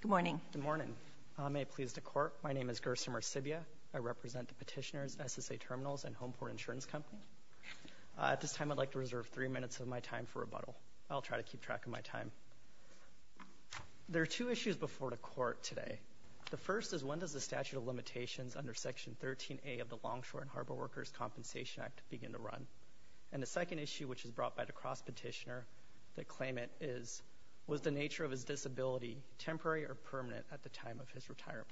Good morning. Good morning. May it please the Court, my name is Gerson Marsibia. I represent the Petitioners, SSA Terminals and Homeport Insurance Company. At this time I'd like to reserve three minutes of my time for rebuttal. I'll try to keep track of my time. There are two issues before the Court today. The first is when does the statute of limitations under Section 13A of the Longshore and Harbor Workers Compensation Act begin to run? And the second issue, which is brought by the Cross Petitioner, the claimant is, was the nature of his disability temporary or permanent at the time of his retirement?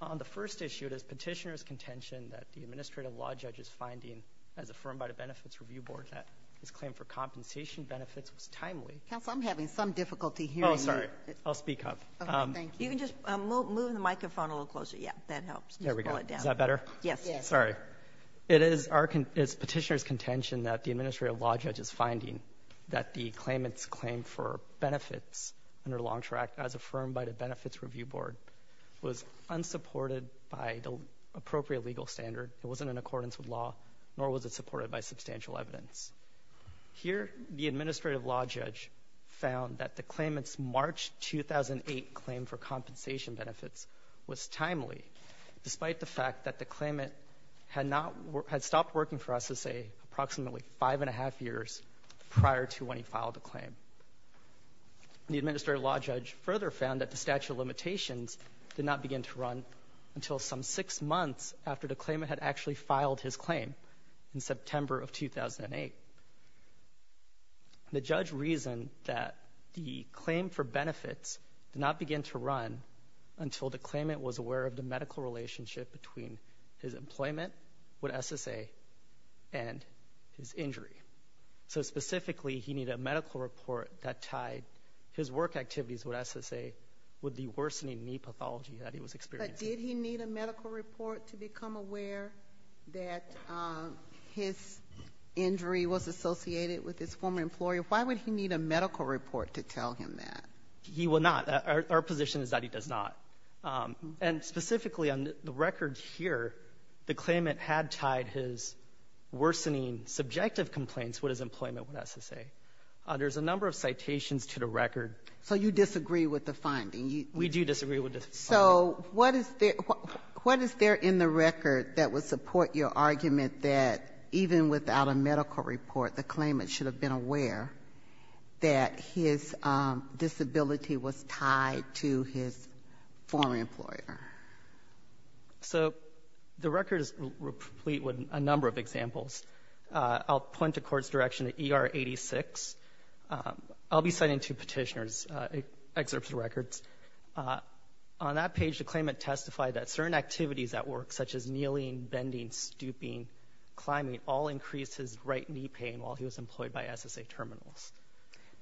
On the first issue, it is Petitioner's contention that the Administrative Law Judge's finding as affirmed by the Benefits Review Board that his claim for compensation benefits was timely. Counsel, I'm having some difficulty hearing you. Oh, sorry. I'll speak up. Okay, thank you. You can just move the microphone a little closer. Yeah, that helps. There we go. Is that better? Yes. Sorry. It is Petitioner's contention that the Administrative Law Judge's finding that the claimant's claim for benefits under Longshore Act as affirmed by the Benefits Review Board was unsupported by the appropriate legal standard. It wasn't in accordance with law, nor was it supported by substantial evidence. Here, the Administrative Law Judge found that the claimant's March 2008 claim for compensation had stopped working for us, let's say, approximately five and a half years prior to when he filed the claim. The Administrative Law Judge further found that the statute of limitations did not begin to run until some six months after the claimant had actually filed his claim in September of 2008. The judge reasoned that the claim for benefits did not begin to run until the claimant was aware of the medical relationship between his employment with SSA and his injury. So specifically, he needed a medical report that tied his work activities with SSA with the worsening knee pathology that he was experiencing. But did he need a medical report to become aware that his injury was associated with his former employer? Why would he need a medical report to tell him that? He would not. Our position is that he does not. And specifically on the record here, the claimant had tied his worsening subjective complaints with his employment with SSA. There's a number of citations to the record. So you disagree with the finding. We do disagree with the finding. So what is there in the record that would support your argument that even without a medical report, the claimant should have been aware that his disability was tied to his former employer? So the record is complete with a number of examples. I'll point the Court's direction to ER 86. I'll be citing two Petitioner's excerpts of records. On that page, the claimant testified that certain activities at work, such as kneeling, bending, stooping, climbing, all increased his right knee pain while he was employed by SSA terminals.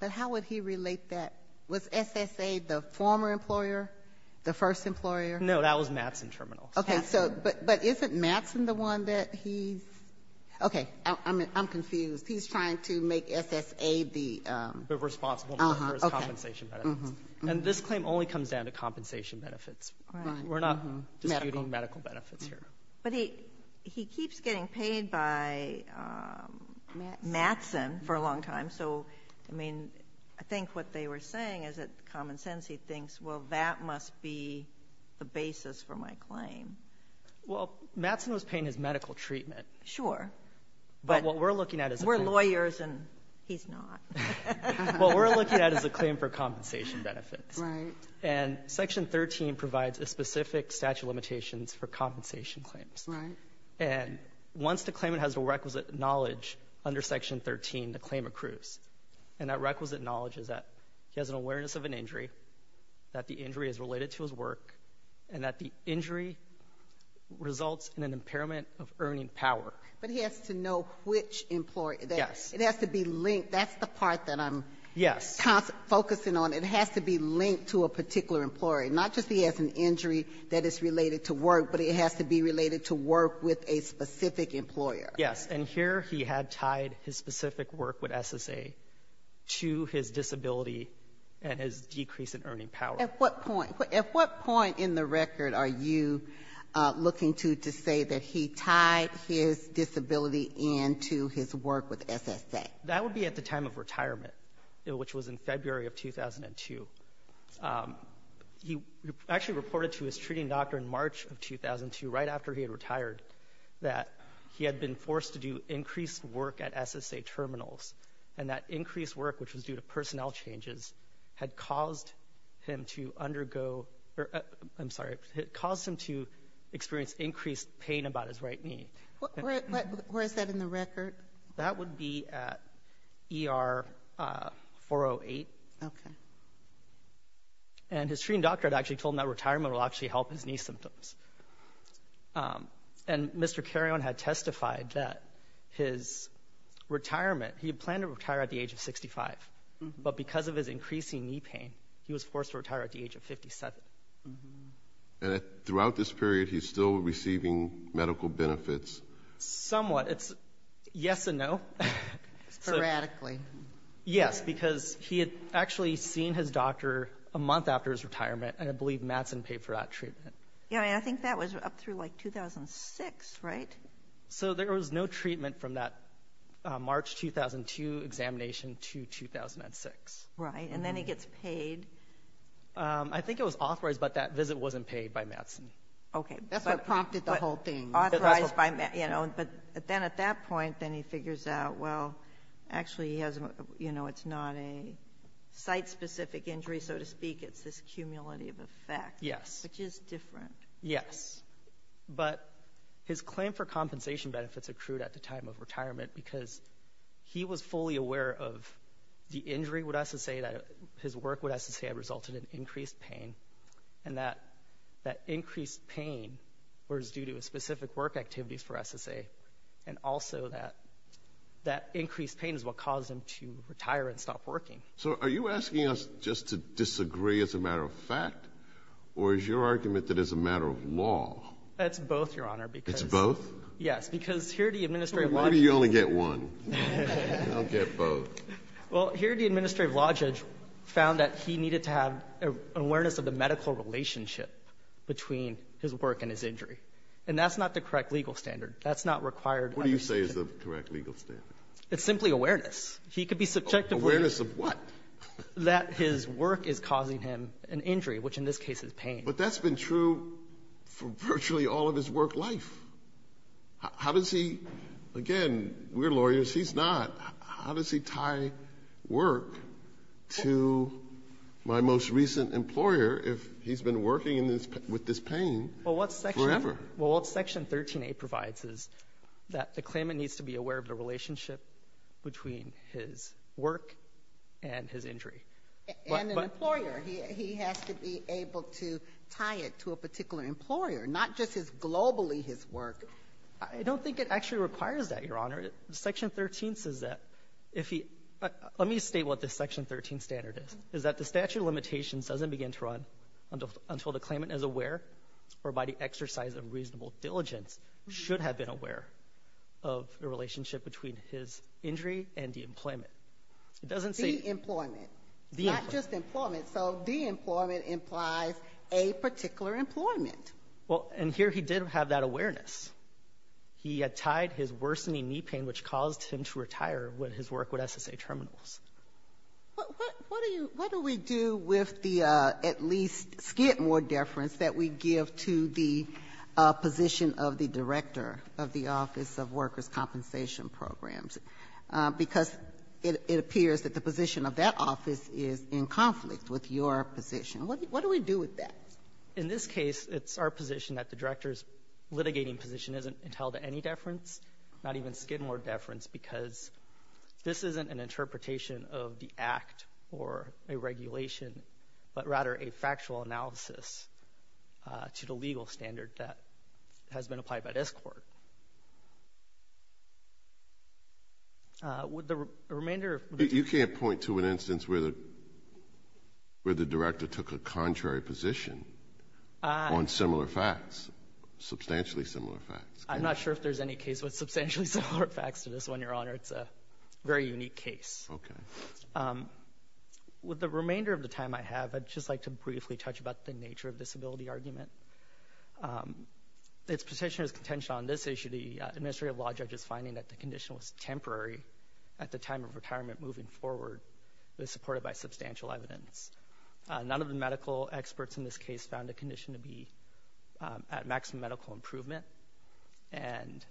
But how would he relate that? Was SSA the former employer, the first employer? No. That was Mattson terminals. Okay. So but isn't Mattson the one that he's — okay. I'm confused. He's trying to make SSA the — The responsible one for his compensation benefits. Uh-huh. Okay. And this claim only comes down to compensation benefits. Right. We're not disputing medical benefits here. But he keeps getting paid by Mattson for a long time. So, I mean, I think what they were saying is that common sense, he thinks, well, that must be the basis for my claim. Well, Mattson was paying his medical treatment. Sure. But what we're looking at is a — We're lawyers, and he's not. What we're looking at is a claim for compensation benefits. Right. And Section 13 provides a specific statute of limitations for compensation claims. Right. And once the claimant has the requisite knowledge under Section 13, the claim accrues. And that requisite knowledge is that he has an awareness of an injury, that the injury is related to his work, and that the injury results in an impairment of earning power. But he has to know which employer. Yes. It has to be linked. That's the part that I'm — Yes. — focusing on. It has to be linked to a particular employer. Not just he has an injury that is related to work, but it has to be related to work with a specific employer. Yes. And here he had tied his specific work with SSA to his disability and his decrease in earning power. At what point? At what point in the record are you looking to say that he tied his disability into his work with SSA? That would be at the time of retirement, which was in February of 2002. He actually reported to his treating doctor in March of 2002, right after he had retired, that he had been forced to do increased work at SSA terminals. And that increased work, which was due to personnel changes, had caused him to undergo — I'm sorry. It caused him to experience increased pain about his right knee. Where is that in the record? That would be at ER 408. Okay. And his treating doctor had actually told him that retirement will actually help his knee symptoms. And Mr. Carrion had testified that his retirement — he had planned to retire at the age of 65, but because of his increasing knee pain, he was forced to retire at the age of 57. And throughout this period, he's still receiving medical benefits? Somewhat. It's yes and no. Sporadically. Yes, because he had actually seen his doctor a month after his retirement, and had believed Mattson paid for that treatment. Yeah. I mean, I think that was up through, like, 2006, right? So there was no treatment from that March 2002 examination to 2006. Right. And then he gets paid. I think it was authorized, but that visit wasn't paid by Mattson. Okay. That's what prompted the whole thing. But then at that point, then he figures out, well, actually he has a — you know, it's not a site-specific injury, so to speak. It's this cumulative effect. Yes. Which is different. Yes. But his claim for compensation benefits accrued at the time of retirement because he was fully aware of the injury would have to say that — his work would have to say it resulted in increased pain, and that that increased pain was due to specific work activities for SSA. And also that that increased pain is what caused him to retire and stop working. So are you asking us just to disagree as a matter of fact, or is your argument that it's a matter of law? It's both, Your Honor, because — It's both? Yes. Because here the administrative — Well, maybe you only get one. I'll get both. Well, here the administrative law judge found that he needed to have an awareness of the medical relationship between his work and his injury. And that's not the correct legal standard. That's not required. What do you say is the correct legal standard? It's simply awareness. He could be subject to — Awareness of what? That his work is causing him an injury, which in this case is pain. But that's been true for virtually all of his work life. How does he — again, we're lawyers. He's not. How does he tie work to my most recent employer if he's been working in this — with this pain forever? Well, what Section — well, what Section 13a provides is that the claimant needs to be aware of the relationship between his work and his injury. And an employer. He has to be able to tie it to a particular employer, not just his — globally his work. I don't think it actually requires that, Your Honor. Section 13 says that if he — let me state what this Section 13 standard is, is that the statute of limitations doesn't begin to run until the claimant is aware or by the exercise of reasonable diligence should have been aware of the relationship between his injury and the employment. It doesn't say — The employment. The employment. Not just employment. So the employment implies a particular employment. Well, and here he did have that awareness. He had tied his worsening knee pain, which caused him to retire with his work with SSA Terminals. What do you — what do we do with the, at least, skit more deference that we give to the position of the director of the Office of Workers' Compensation Programs? Because it appears that the position of that office is in conflict with your position. What do we do with that? In this case, it's our position that the director's litigating position isn't entitled to any deference, not even skit more deference, because this isn't an interpretation of the act or a regulation, but rather a factual analysis to the legal standard that has been applied by this Court. Would the remainder of — Where the director took a contrary position on similar facts, substantially similar facts. I'm not sure if there's any case with substantially similar facts to this one, Your Honor. It's a very unique case. Okay. With the remainder of the time I have, I'd just like to briefly touch about the nature of this ability argument. Its position is contention on this issue. The administrative law judge is finding that the condition was temporary at the time of substantial evidence. None of the medical experts in this case found the condition to be at maximum medical improvement. And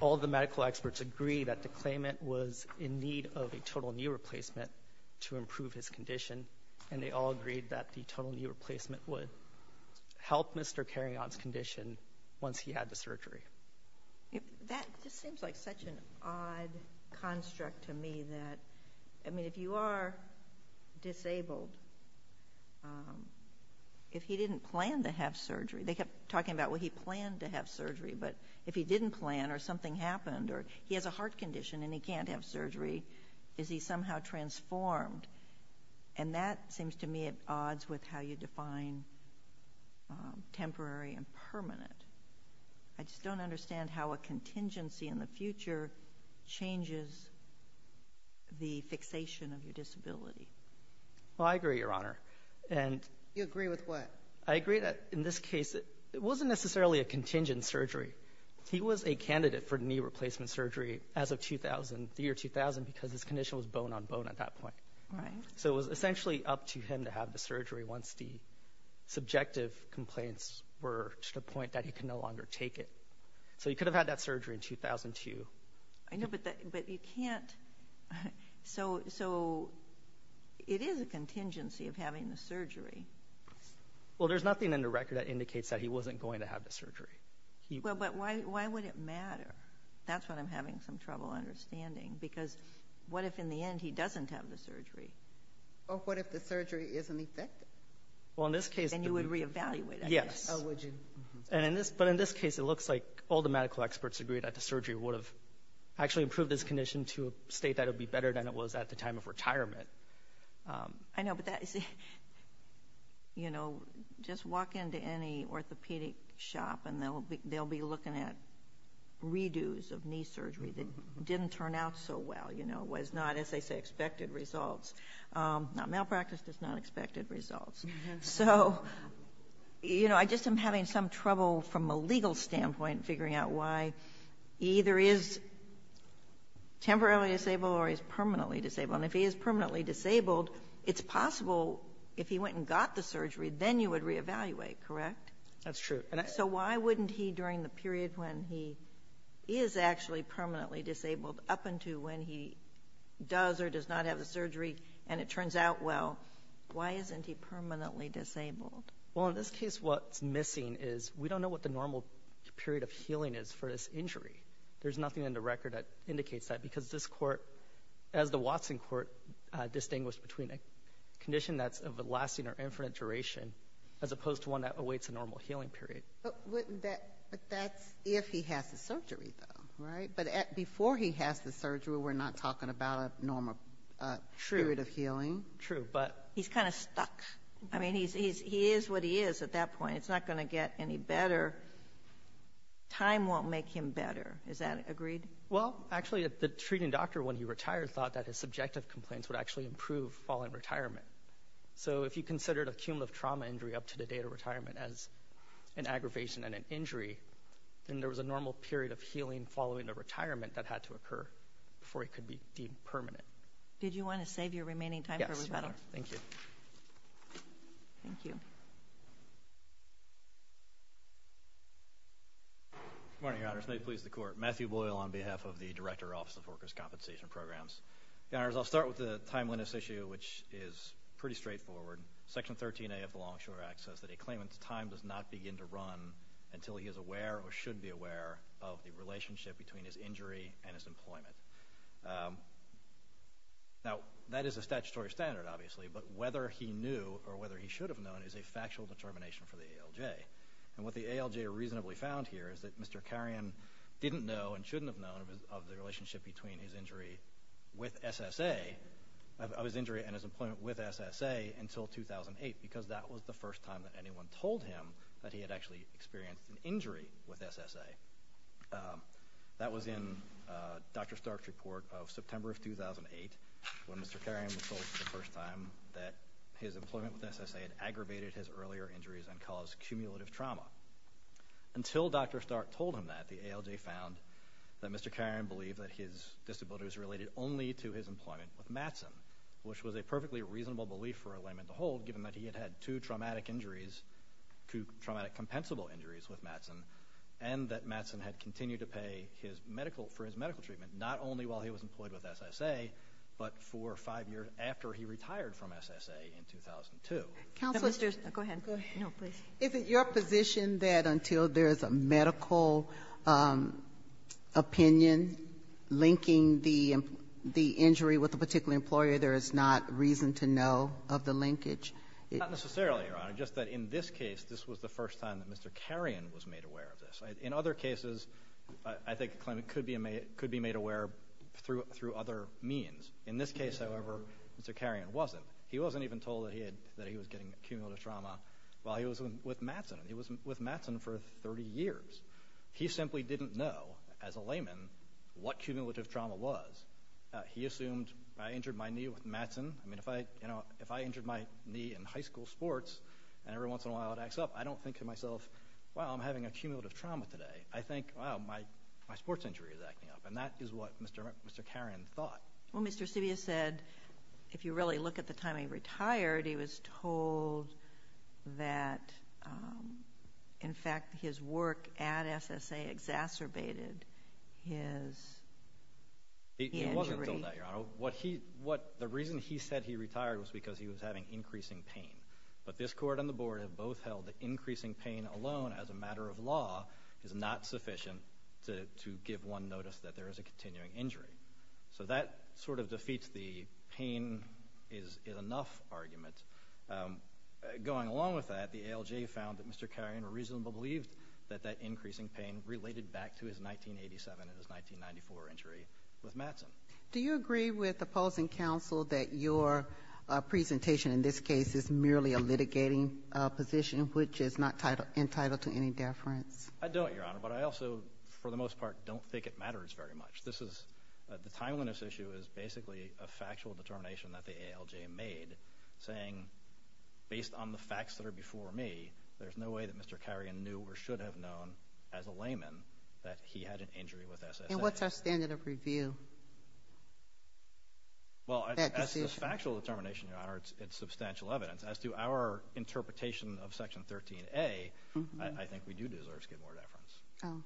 all the medical experts agree that the claimant was in need of a total knee replacement to improve his condition, and they all agreed that the total knee replacement would help Mr. Carrion's condition once he had the surgery. That just seems like such an odd construct to me that — I mean, if you are disabled, if he didn't plan to have surgery — they kept talking about, well, he planned to have surgery, but if he didn't plan or something happened or he has a heart condition and he can't have surgery, is he somehow transformed? And that seems to me at odds with how you define temporary and permanent. I just don't understand how a contingency in the future changes the fixation of your disability. Well, I agree, Your Honor, and — You agree with what? I agree that in this case it wasn't necessarily a contingent surgery. He was a candidate for knee replacement surgery as of 2000, the year 2000, because his condition was bone on bone at that point. Right. So it was essentially up to him to have the surgery once the subjective complaints were to the point that he could no longer take it. So he could have had that surgery in 2002. I know, but you can't — so it is a contingency of having the surgery. Well, there's nothing in the record that indicates that he wasn't going to have the surgery. Well, but why would it matter? That's what I'm having some trouble understanding, because what if in the end he doesn't have the surgery? Or what if the surgery isn't effective? Well, in this case — Then you would reevaluate, I guess. Oh, would you? And in this — but in this case, it looks like all the medical experts agree that the surgery would have actually improved his condition to a state that it would be better than it was at the time of retirement. I know, but that — you know, just walk into any orthopedic shop, and they'll be looking at re-dos of knee surgery that didn't turn out so well, you know, was not, as they say, Now, malpractice does not expect good results. So, you know, I just am having some trouble from a legal standpoint figuring out why he either is temporarily disabled or he's permanently disabled. And if he is permanently disabled, it's possible if he went and got the surgery, then you would reevaluate, correct? That's true. So why wouldn't he, during the period when he is actually permanently disabled up until when he does or does not have the surgery, and it turns out well, why isn't he permanently disabled? Well, in this case, what's missing is we don't know what the normal period of healing is for this injury. There's nothing in the record that indicates that, because this court, as the Watson court, distinguished between a condition that's of a lasting or infinite duration as opposed to one that awaits a normal healing period. But that's if he has the surgery, though, right? But before he has the surgery, we're not talking about a normal period of healing. True. He's kind of stuck. I mean, he is what he is at that point. It's not going to get any better. Time won't make him better. Is that agreed? Well, actually, the treating doctor, when he retired, thought that his subjective complaints would actually improve following retirement. So if you considered a cumulative trauma injury up to the date of retirement as an aggravation and an injury, then there was a normal period of healing following the retirement that had to occur before he could be deemed permanent. Did you want to save your remaining time for rebuttal? Yes, Your Honor. Thank you. Thank you. Good morning, Your Honors. May it please the Court. Matthew Boyle on behalf of the Director, Office of Workers' Compensation Programs. Your Honors, I'll start with the timeliness issue, which is pretty straightforward. Section 13A of the Longshore Act says that a claimant's time does not begin to run until he is aware or should be aware of the relationship between his injury and his employment. Now, that is a statutory standard, obviously, but whether he knew or whether he should have known is a factual determination for the ALJ. And what the ALJ reasonably found here is that Mr. Carrion didn't know and shouldn't have known of the relationship between his injury with SSA, of his injury and his employment with SSA until 2008, because that was the first time that anyone told him that he had actually experienced an injury with SSA. That was in Dr. Stark's report of September of 2008, when Mr. Carrion was told for the first time that his employment with SSA had aggravated his earlier injuries and caused cumulative trauma. Until Dr. Stark told him that, the ALJ found that Mr. Carrion believed that his disability was related only to his employment with Mattson, which was a perfectly reasonable belief for a claimant to hold, given that he had had two traumatic injuries, two traumatic compensable injuries with Mattson, and that Mattson had continued to pay his medical, for his medical treatment, not only while he was employed with SSA, but for five years after he retired from SSA in 2002. Counsel, go ahead. No, please. Isn't your position that until there's a medical opinion linking the injury with a particular employer, there is not reason to know of the linkage? Not necessarily, Your Honor. Just that in this case, this was the first time that Mr. Carrion was made aware of this. In other cases, I think a claimant could be made aware through other means. In this case, however, Mr. Carrion wasn't. He wasn't even told that he was getting cumulative trauma while he was with Mattson. He was with Mattson for 30 years. He simply didn't know, as a layman, what cumulative trauma was. He assumed, I injured my knee with Mattson. I mean, if I injured my knee in high school sports, and every once in a while it acts up, I don't think to myself, wow, I'm having a cumulative trauma today. I think, wow, my sports injury is acting up. And that is what Mr. Carrion thought. Well, Mr. Stibius said, if you really look at the time he retired, he was told that, in fact, his work at SSA exacerbated his injury. He wasn't told that, Your Honor. So the reason he said he retired was because he was having increasing pain. But this Court and the Board have both held that increasing pain alone, as a matter of law, is not sufficient to give one notice that there is a continuing injury. So that sort of defeats the pain is enough argument. Going along with that, the ALJ found that Mr. Carrion reasonably believed that that increasing pain related back to his 1987 and his 1994 injury with Mattson. Do you agree with opposing counsel that your presentation in this case is merely a litigating position, which is not entitled to any deference? I don't, Your Honor. But I also, for the most part, don't think it matters very much. The timeliness issue is basically a factual determination that the ALJ made, saying, based on the facts that are before me, there's no way that Mr. Carrion knew or should have known as a layman that he had an injury with SSA. And what's our standard of review? Well, as to this factual determination, Your Honor, it's substantial evidence. As to our interpretation of Section 13A, I think we do deserve skid more deference. Oh.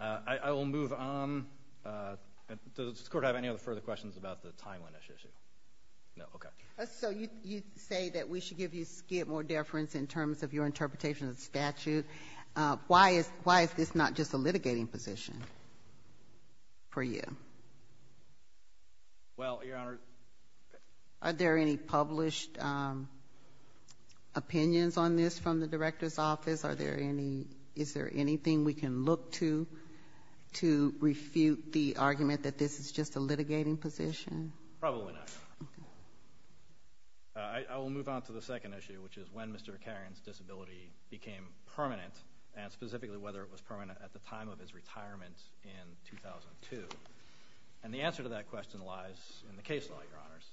I will move on. Does this Court have any other further questions about the timeliness issue? No? Okay. So you say that we should give you skid more deference in terms of your interpretation of the statute. Why is this not just a litigating position for you? Well, Your Honor. Are there any published opinions on this from the Director's Office? Is there anything we can look to to refute the argument that this is just a litigating position? Probably not, Your Honor. Okay. I will move on to the second issue, which is when Mr. Carrion's disability became permanent and specifically whether it was permanent at the time of his retirement in 2002. And the answer to that question lies in the case law, Your Honors.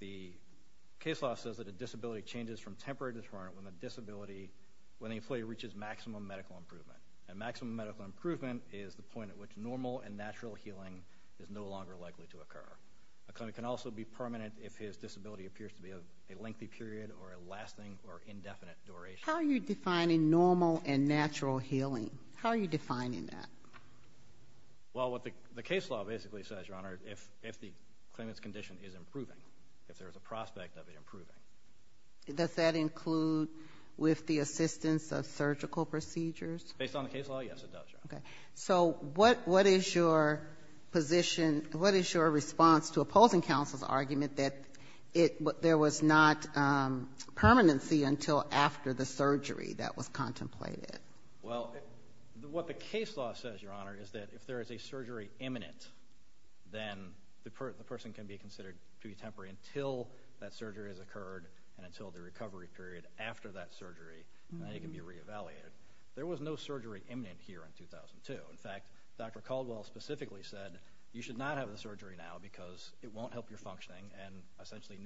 The case law says that a disability changes from temporary to permanent when the employee reaches maximum medical improvement. And maximum medical improvement is the point at which normal and natural healing is no longer likely to occur. A claimant can also be permanent if his disability appears to be a lengthy period or a lasting or indefinite duration. How are you defining normal and natural healing? How are you defining that? Well, what the case law basically says, Your Honor, if the claimant's condition is improving, if there is a prospect of it improving. Does that include with the assistance of surgical procedures? Okay. So what is your position, what is your response to opposing counsel's argument that there was not permanency until after the surgery that was contemplated? Well, what the case law says, Your Honor, is that if there is a surgery imminent, then the person can be considered to be temporary until that surgery has occurred and until the recovery period after that surgery, and then it can be re-evaluated. There was no surgery imminent here in 2002. In fact, Dr. Caldwell specifically said you should not have the surgery now because it won't help your functioning and essentially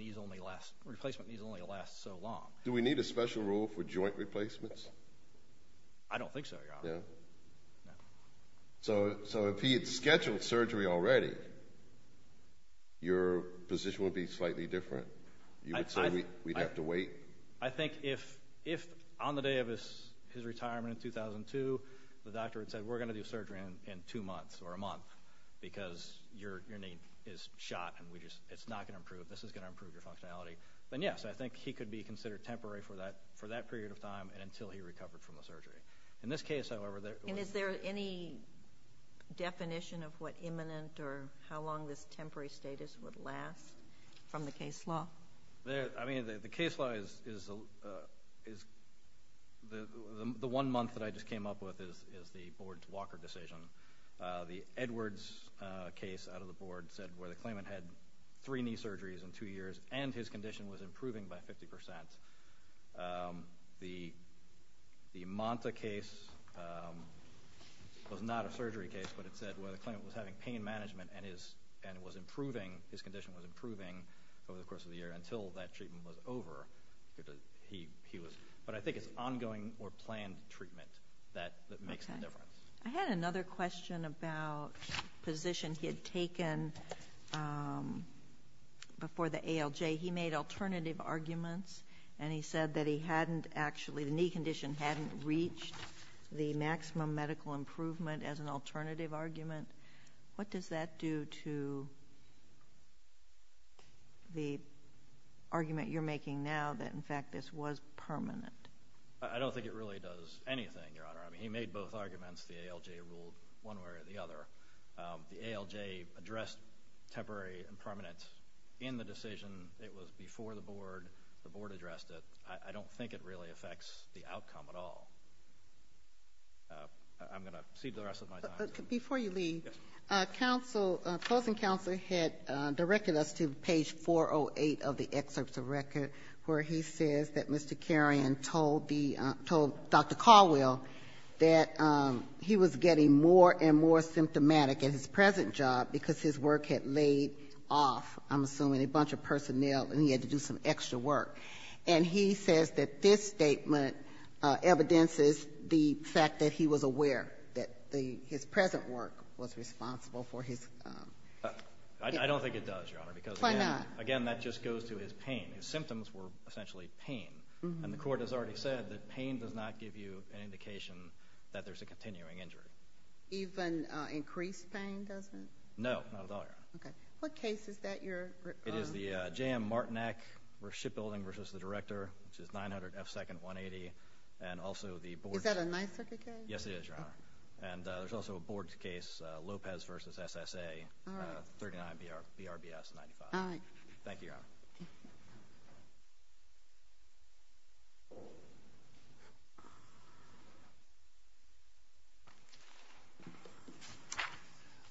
replacement knees only last so long. Do we need a special rule for joint replacements? I don't think so, Your Honor. So if he had scheduled surgery already, your position would be slightly different? You would say we'd have to wait? I think if on the day of his retirement in 2002, the doctor had said we're going to do surgery in two months or a month because your knee is shot and it's not going to improve, this is going to improve your functionality, then, yes, I think he could be considered temporary for that period of time and until he recovered from the surgery. In this case, however, there was no surgery. And is there any definition of what imminent or how long this temporary status would last from the case law? I mean, the case law is the one month that I just came up with is the Board's Walker decision. The Edwards case out of the Board said where the claimant had three knee surgeries in two years and his condition was improving by 50%. The Monta case was not a surgery case, but it said where the claimant was having pain management and his condition was improving over the course of the year until that treatment was over. But I think it's ongoing or planned treatment that makes the difference. I had another question about positions he had taken before the ALJ. He made alternative arguments, and he said that he hadn't actually, the knee condition hadn't reached the maximum medical improvement as an alternative argument. What does that do to the argument you're making now that, in fact, this was permanent? I don't think it really does anything, Your Honor. I mean, he made both arguments. The ALJ ruled one way or the other. The ALJ addressed temporary and permanent in the decision. It was before the Board. The Board addressed it. I don't think it really affects the outcome at all. I'm going to cede the rest of my time. Before you leave, closing counsel had directed us to page 408 of the excerpts of record where he says that Mr. Carrion told Dr. Caldwell that he was getting more and more symptomatic at his present job because his work had laid off, I'm assuming, a bunch of personnel, and he had to do some extra work. And he says that this statement evidences the fact that he was aware that his present work was responsible for his. I don't think it does, Your Honor. Why not? Because, again, that just goes to his pain. His symptoms were essentially pain. And the Court has already said that pain does not give you an indication that there's a continuing injury. Even increased pain doesn't? No, not at all, Your Honor. Okay. What case is that you're... M. Martinek v. Shipbuilding v. The Director, which is 900 F. Second, 180. And also the board... Is that a Ninth Circuit case? Yes, it is, Your Honor. And there's also a board case, Lopez v. SSA, 39 BRBS 95. All right. Thank you, Your Honor.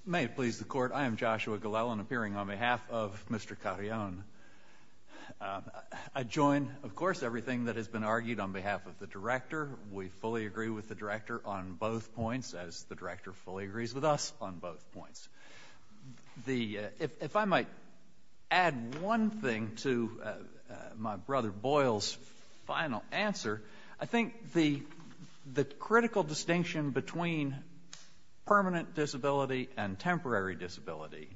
May it please the Court. I am Joshua Glellen, appearing on behalf of Mr. Carrion. I join, of course, everything that has been argued on behalf of the Director. We fully agree with the Director on both points, as the Director fully agrees with us on both points. If I might add one thing to my brother Boyle's final answer, I think the critical distinction between permanent disability and temporary disability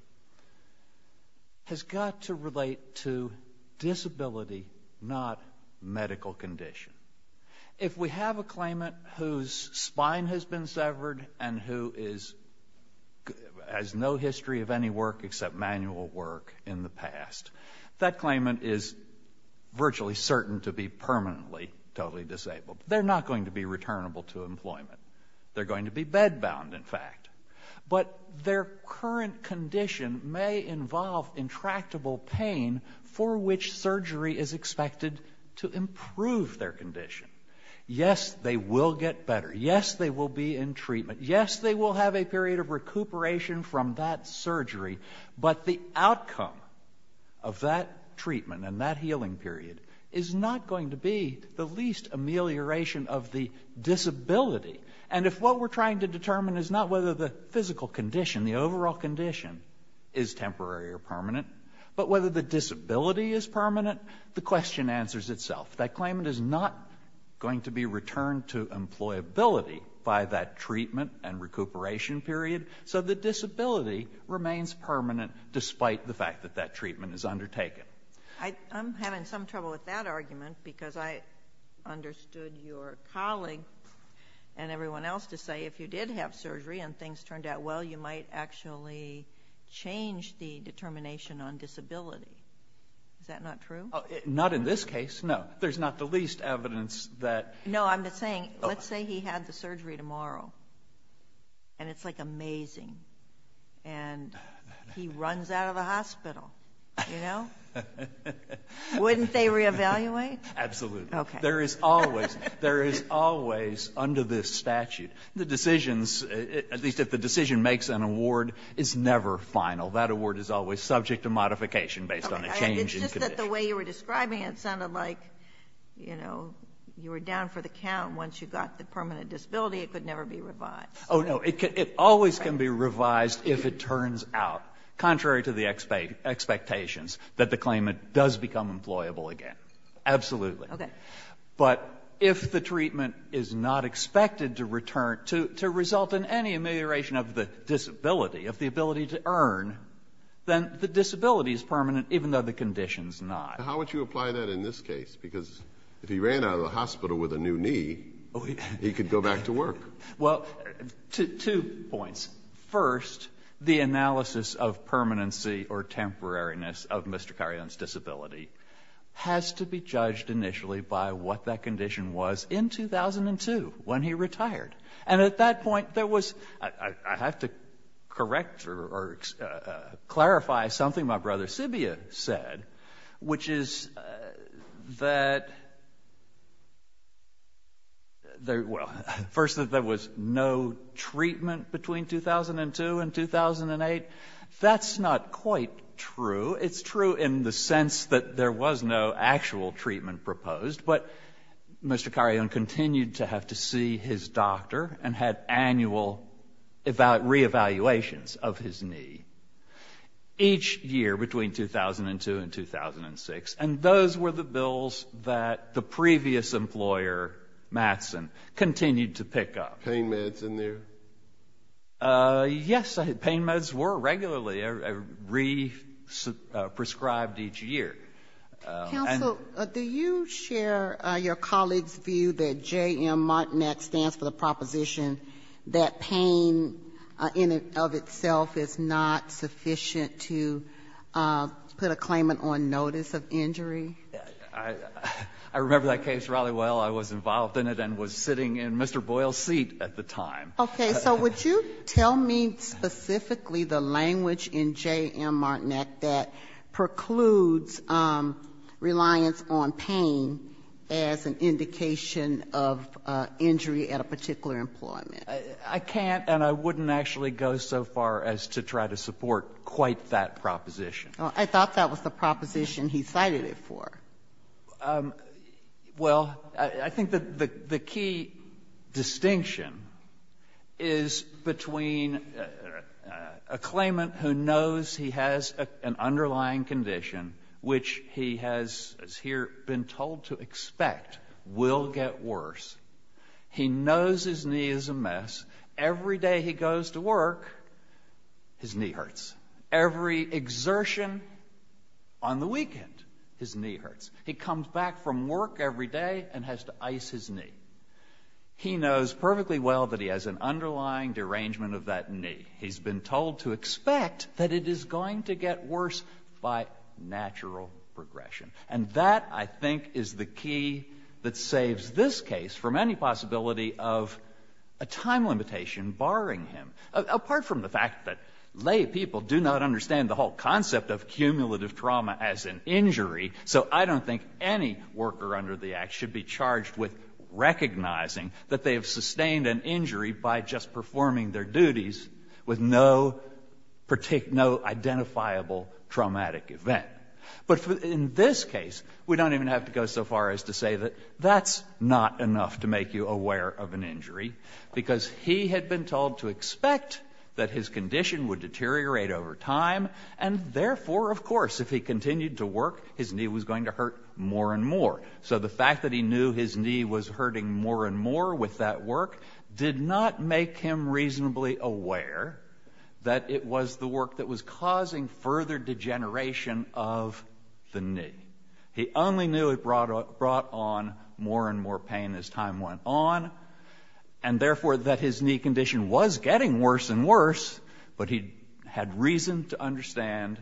has got to relate to disability, not medical condition. If we have a claimant whose spine has been severed and who is — has no history of any work except manual work in the past, that claimant is virtually certain to be permanently totally disabled. They're not going to be returnable to employment. They're going to be bedbound, in fact. But their current condition may involve intractable pain for which surgery is expected to improve their condition. Yes, they will get better. Yes, they will be in treatment. Yes, they will have a period of recuperation from that surgery, but the outcome of that treatment and that healing period is not going to be the least amelioration of the disability. And if what we're trying to determine is not whether the physical condition, the overall condition, is temporary or permanent, but whether the disability is permanent, the question answers itself. That claimant is not going to be returned to employability by that treatment and recuperation period. So the disability remains permanent despite the fact that that treatment is undertaken. I'm having some trouble with that argument because I understood your colleague and everyone else to say if you did have surgery and things turned out well, you might actually change the determination on disability. Is that not true? Not in this case, no. There's not the least evidence that ---- No, I'm just saying, let's say he had the surgery tomorrow, and it's like amazing, and he runs out of the hospital, you know? Wouldn't they reevaluate? Absolutely. Okay. There is always under this statute, the decisions, at least if the decision makes an award, is never final. That award is always subject to modification based on the change in condition. It's just that the way you were describing it sounded like, you know, you were down for the count. Once you got the permanent disability, it could never be revised. Oh, no. It always can be revised if it turns out, contrary to the expectations, that the claimant does become employable again. Absolutely. Okay. But if the treatment is not expected to return, to result in any amelioration of the disability, of the ability to earn, then the disability is permanent, even though the condition is not. How would you apply that in this case? Because if he ran out of the hospital with a new knee, he could go back to work. Well, two points. First, the analysis of permanency or temporariness of Mr. Carrion's disability has to be judged initially by what that condition was in 2002, when he retired. And at that point, there was — I have to correct or clarify something my brother Sibbia said, which is that there — well, first, that there was no treatment between 2002 and 2008. That's not quite true. It's true in the sense that there was no actual treatment proposed. But Mr. Carrion continued to have to see his doctor and had annual reevaluations of his knee each year between 2002 and 2006. And those were the bills that the previous employer, Mattson, continued to pick up. Pain meds in there? Yes. Pain meds were regularly re-prescribed each year. Counsel, do you share your colleague's view that JM Martinez stands for the proposition that pain in and of itself is not sufficient to put a claimant on notice of injury? I remember that case rather well. I was involved in it and was sitting in Mr. Boyle's seat at the time. Okay. So would you tell me specifically the language in JM Martinez that precludes reliance on pain as an indication of injury at a particular employment? I can't and I wouldn't actually go so far as to try to support quite that proposition. I thought that was the proposition he cited it for. Well, I think that the key distinction is between a claimant who knows he has an underlying condition, which he has here been told to expect will get worse. He knows his knee is a mess. Every day he goes to work, his knee hurts. Every exertion on the weekend, his knee hurts. He comes back from work every day and has to ice his knee. He knows perfectly well that he has an underlying derangement of that knee. He's been told to expect that it is going to get worse by natural progression. And that, I think, is the key that saves this case from any possibility of a time limitation barring him, apart from the fact that lay people do not understand the whole concept of cumulative trauma as an injury. So I don't think any worker under the Act should be charged with recognizing that they have sustained an injury by just performing their duties with no identifiable traumatic event. But in this case, we don't even have to go so far as to say that that's not enough to make you aware of an injury, because he had been told to expect that his condition would deteriorate over time, and therefore, of course, if he continued to work, his knee was going to hurt more and more. So the fact that he knew his knee was hurting more and more with that work did not make him reasonably aware that it was the work that was causing further degeneration of the knee. He only knew it brought on more and more pain as time went on. And therefore, that his knee condition was getting worse and worse, but he had reason to understand,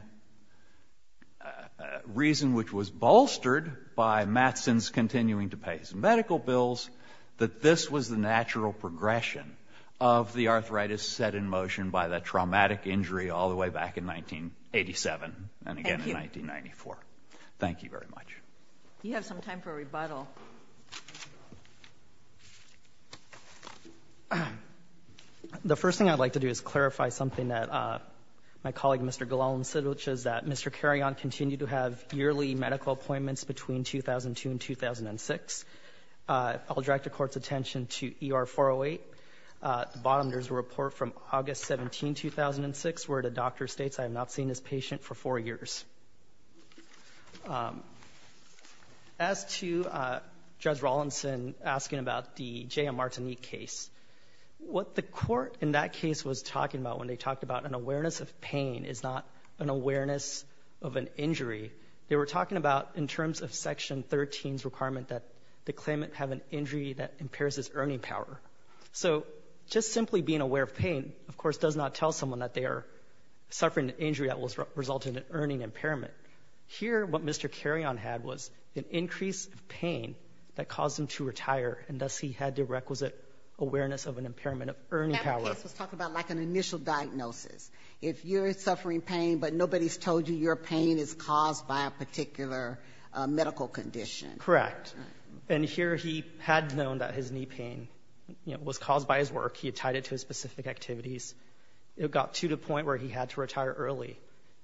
reason which was bolstered by Mattson's continuing to pay his medical bills, that this was the natural progression of the arthritis set in motion by that traumatic injury all the way back in 1987 and again in 1994. Thank you very much. You have some time for a rebuttal. The first thing I'd like to do is clarify something that my colleague, Mr. Gillelan, said, which is that Mr. Carrion continued to have yearly medical appointments between 2002 and 2006. I'll direct the Court's attention to ER-408. At the bottom, there's a report from August 17, 2006, where the doctor states, I have not seen this patient for four years. As to Judge Rawlinson asking about the J.M. Martinique case, what the Court in that case was talking about when they talked about an awareness of pain is not an awareness of an injury. They were talking about in terms of Section 13's requirement that the claimant have an injury that impairs his earning power. So just simply being aware of pain, of course, does not tell someone that they are suffering an injury that resulted in earning impairment. Here, what Mr. Carrion had was an increase of pain that caused him to retire, and thus he had the requisite awareness of an impairment of earning power. That case was talking about like an initial diagnosis. If you're suffering pain, but nobody's told you your pain is caused by a particular medical condition. Correct. And here, he had known that his knee pain, you know, was caused by his work. He had tied it to his specific activities. It got to the point where he had to retire early.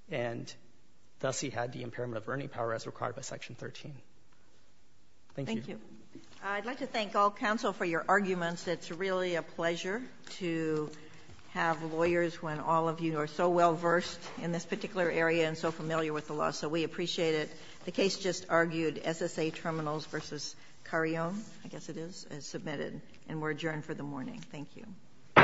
And thus, he had the impairment of earning power as required by Section 13. Thank you. Ginsburg. I'd like to thank all counsel for your arguments. It's really a pleasure to have lawyers when all of you are so well-versed in this particular area and so familiar with the law. So we appreciate it. The case just argued SSA Terminals v. Carrion, I guess it is, as submitted, and we're adjourned for the morning. Thank you. All rise. This court for this session stands adjourned.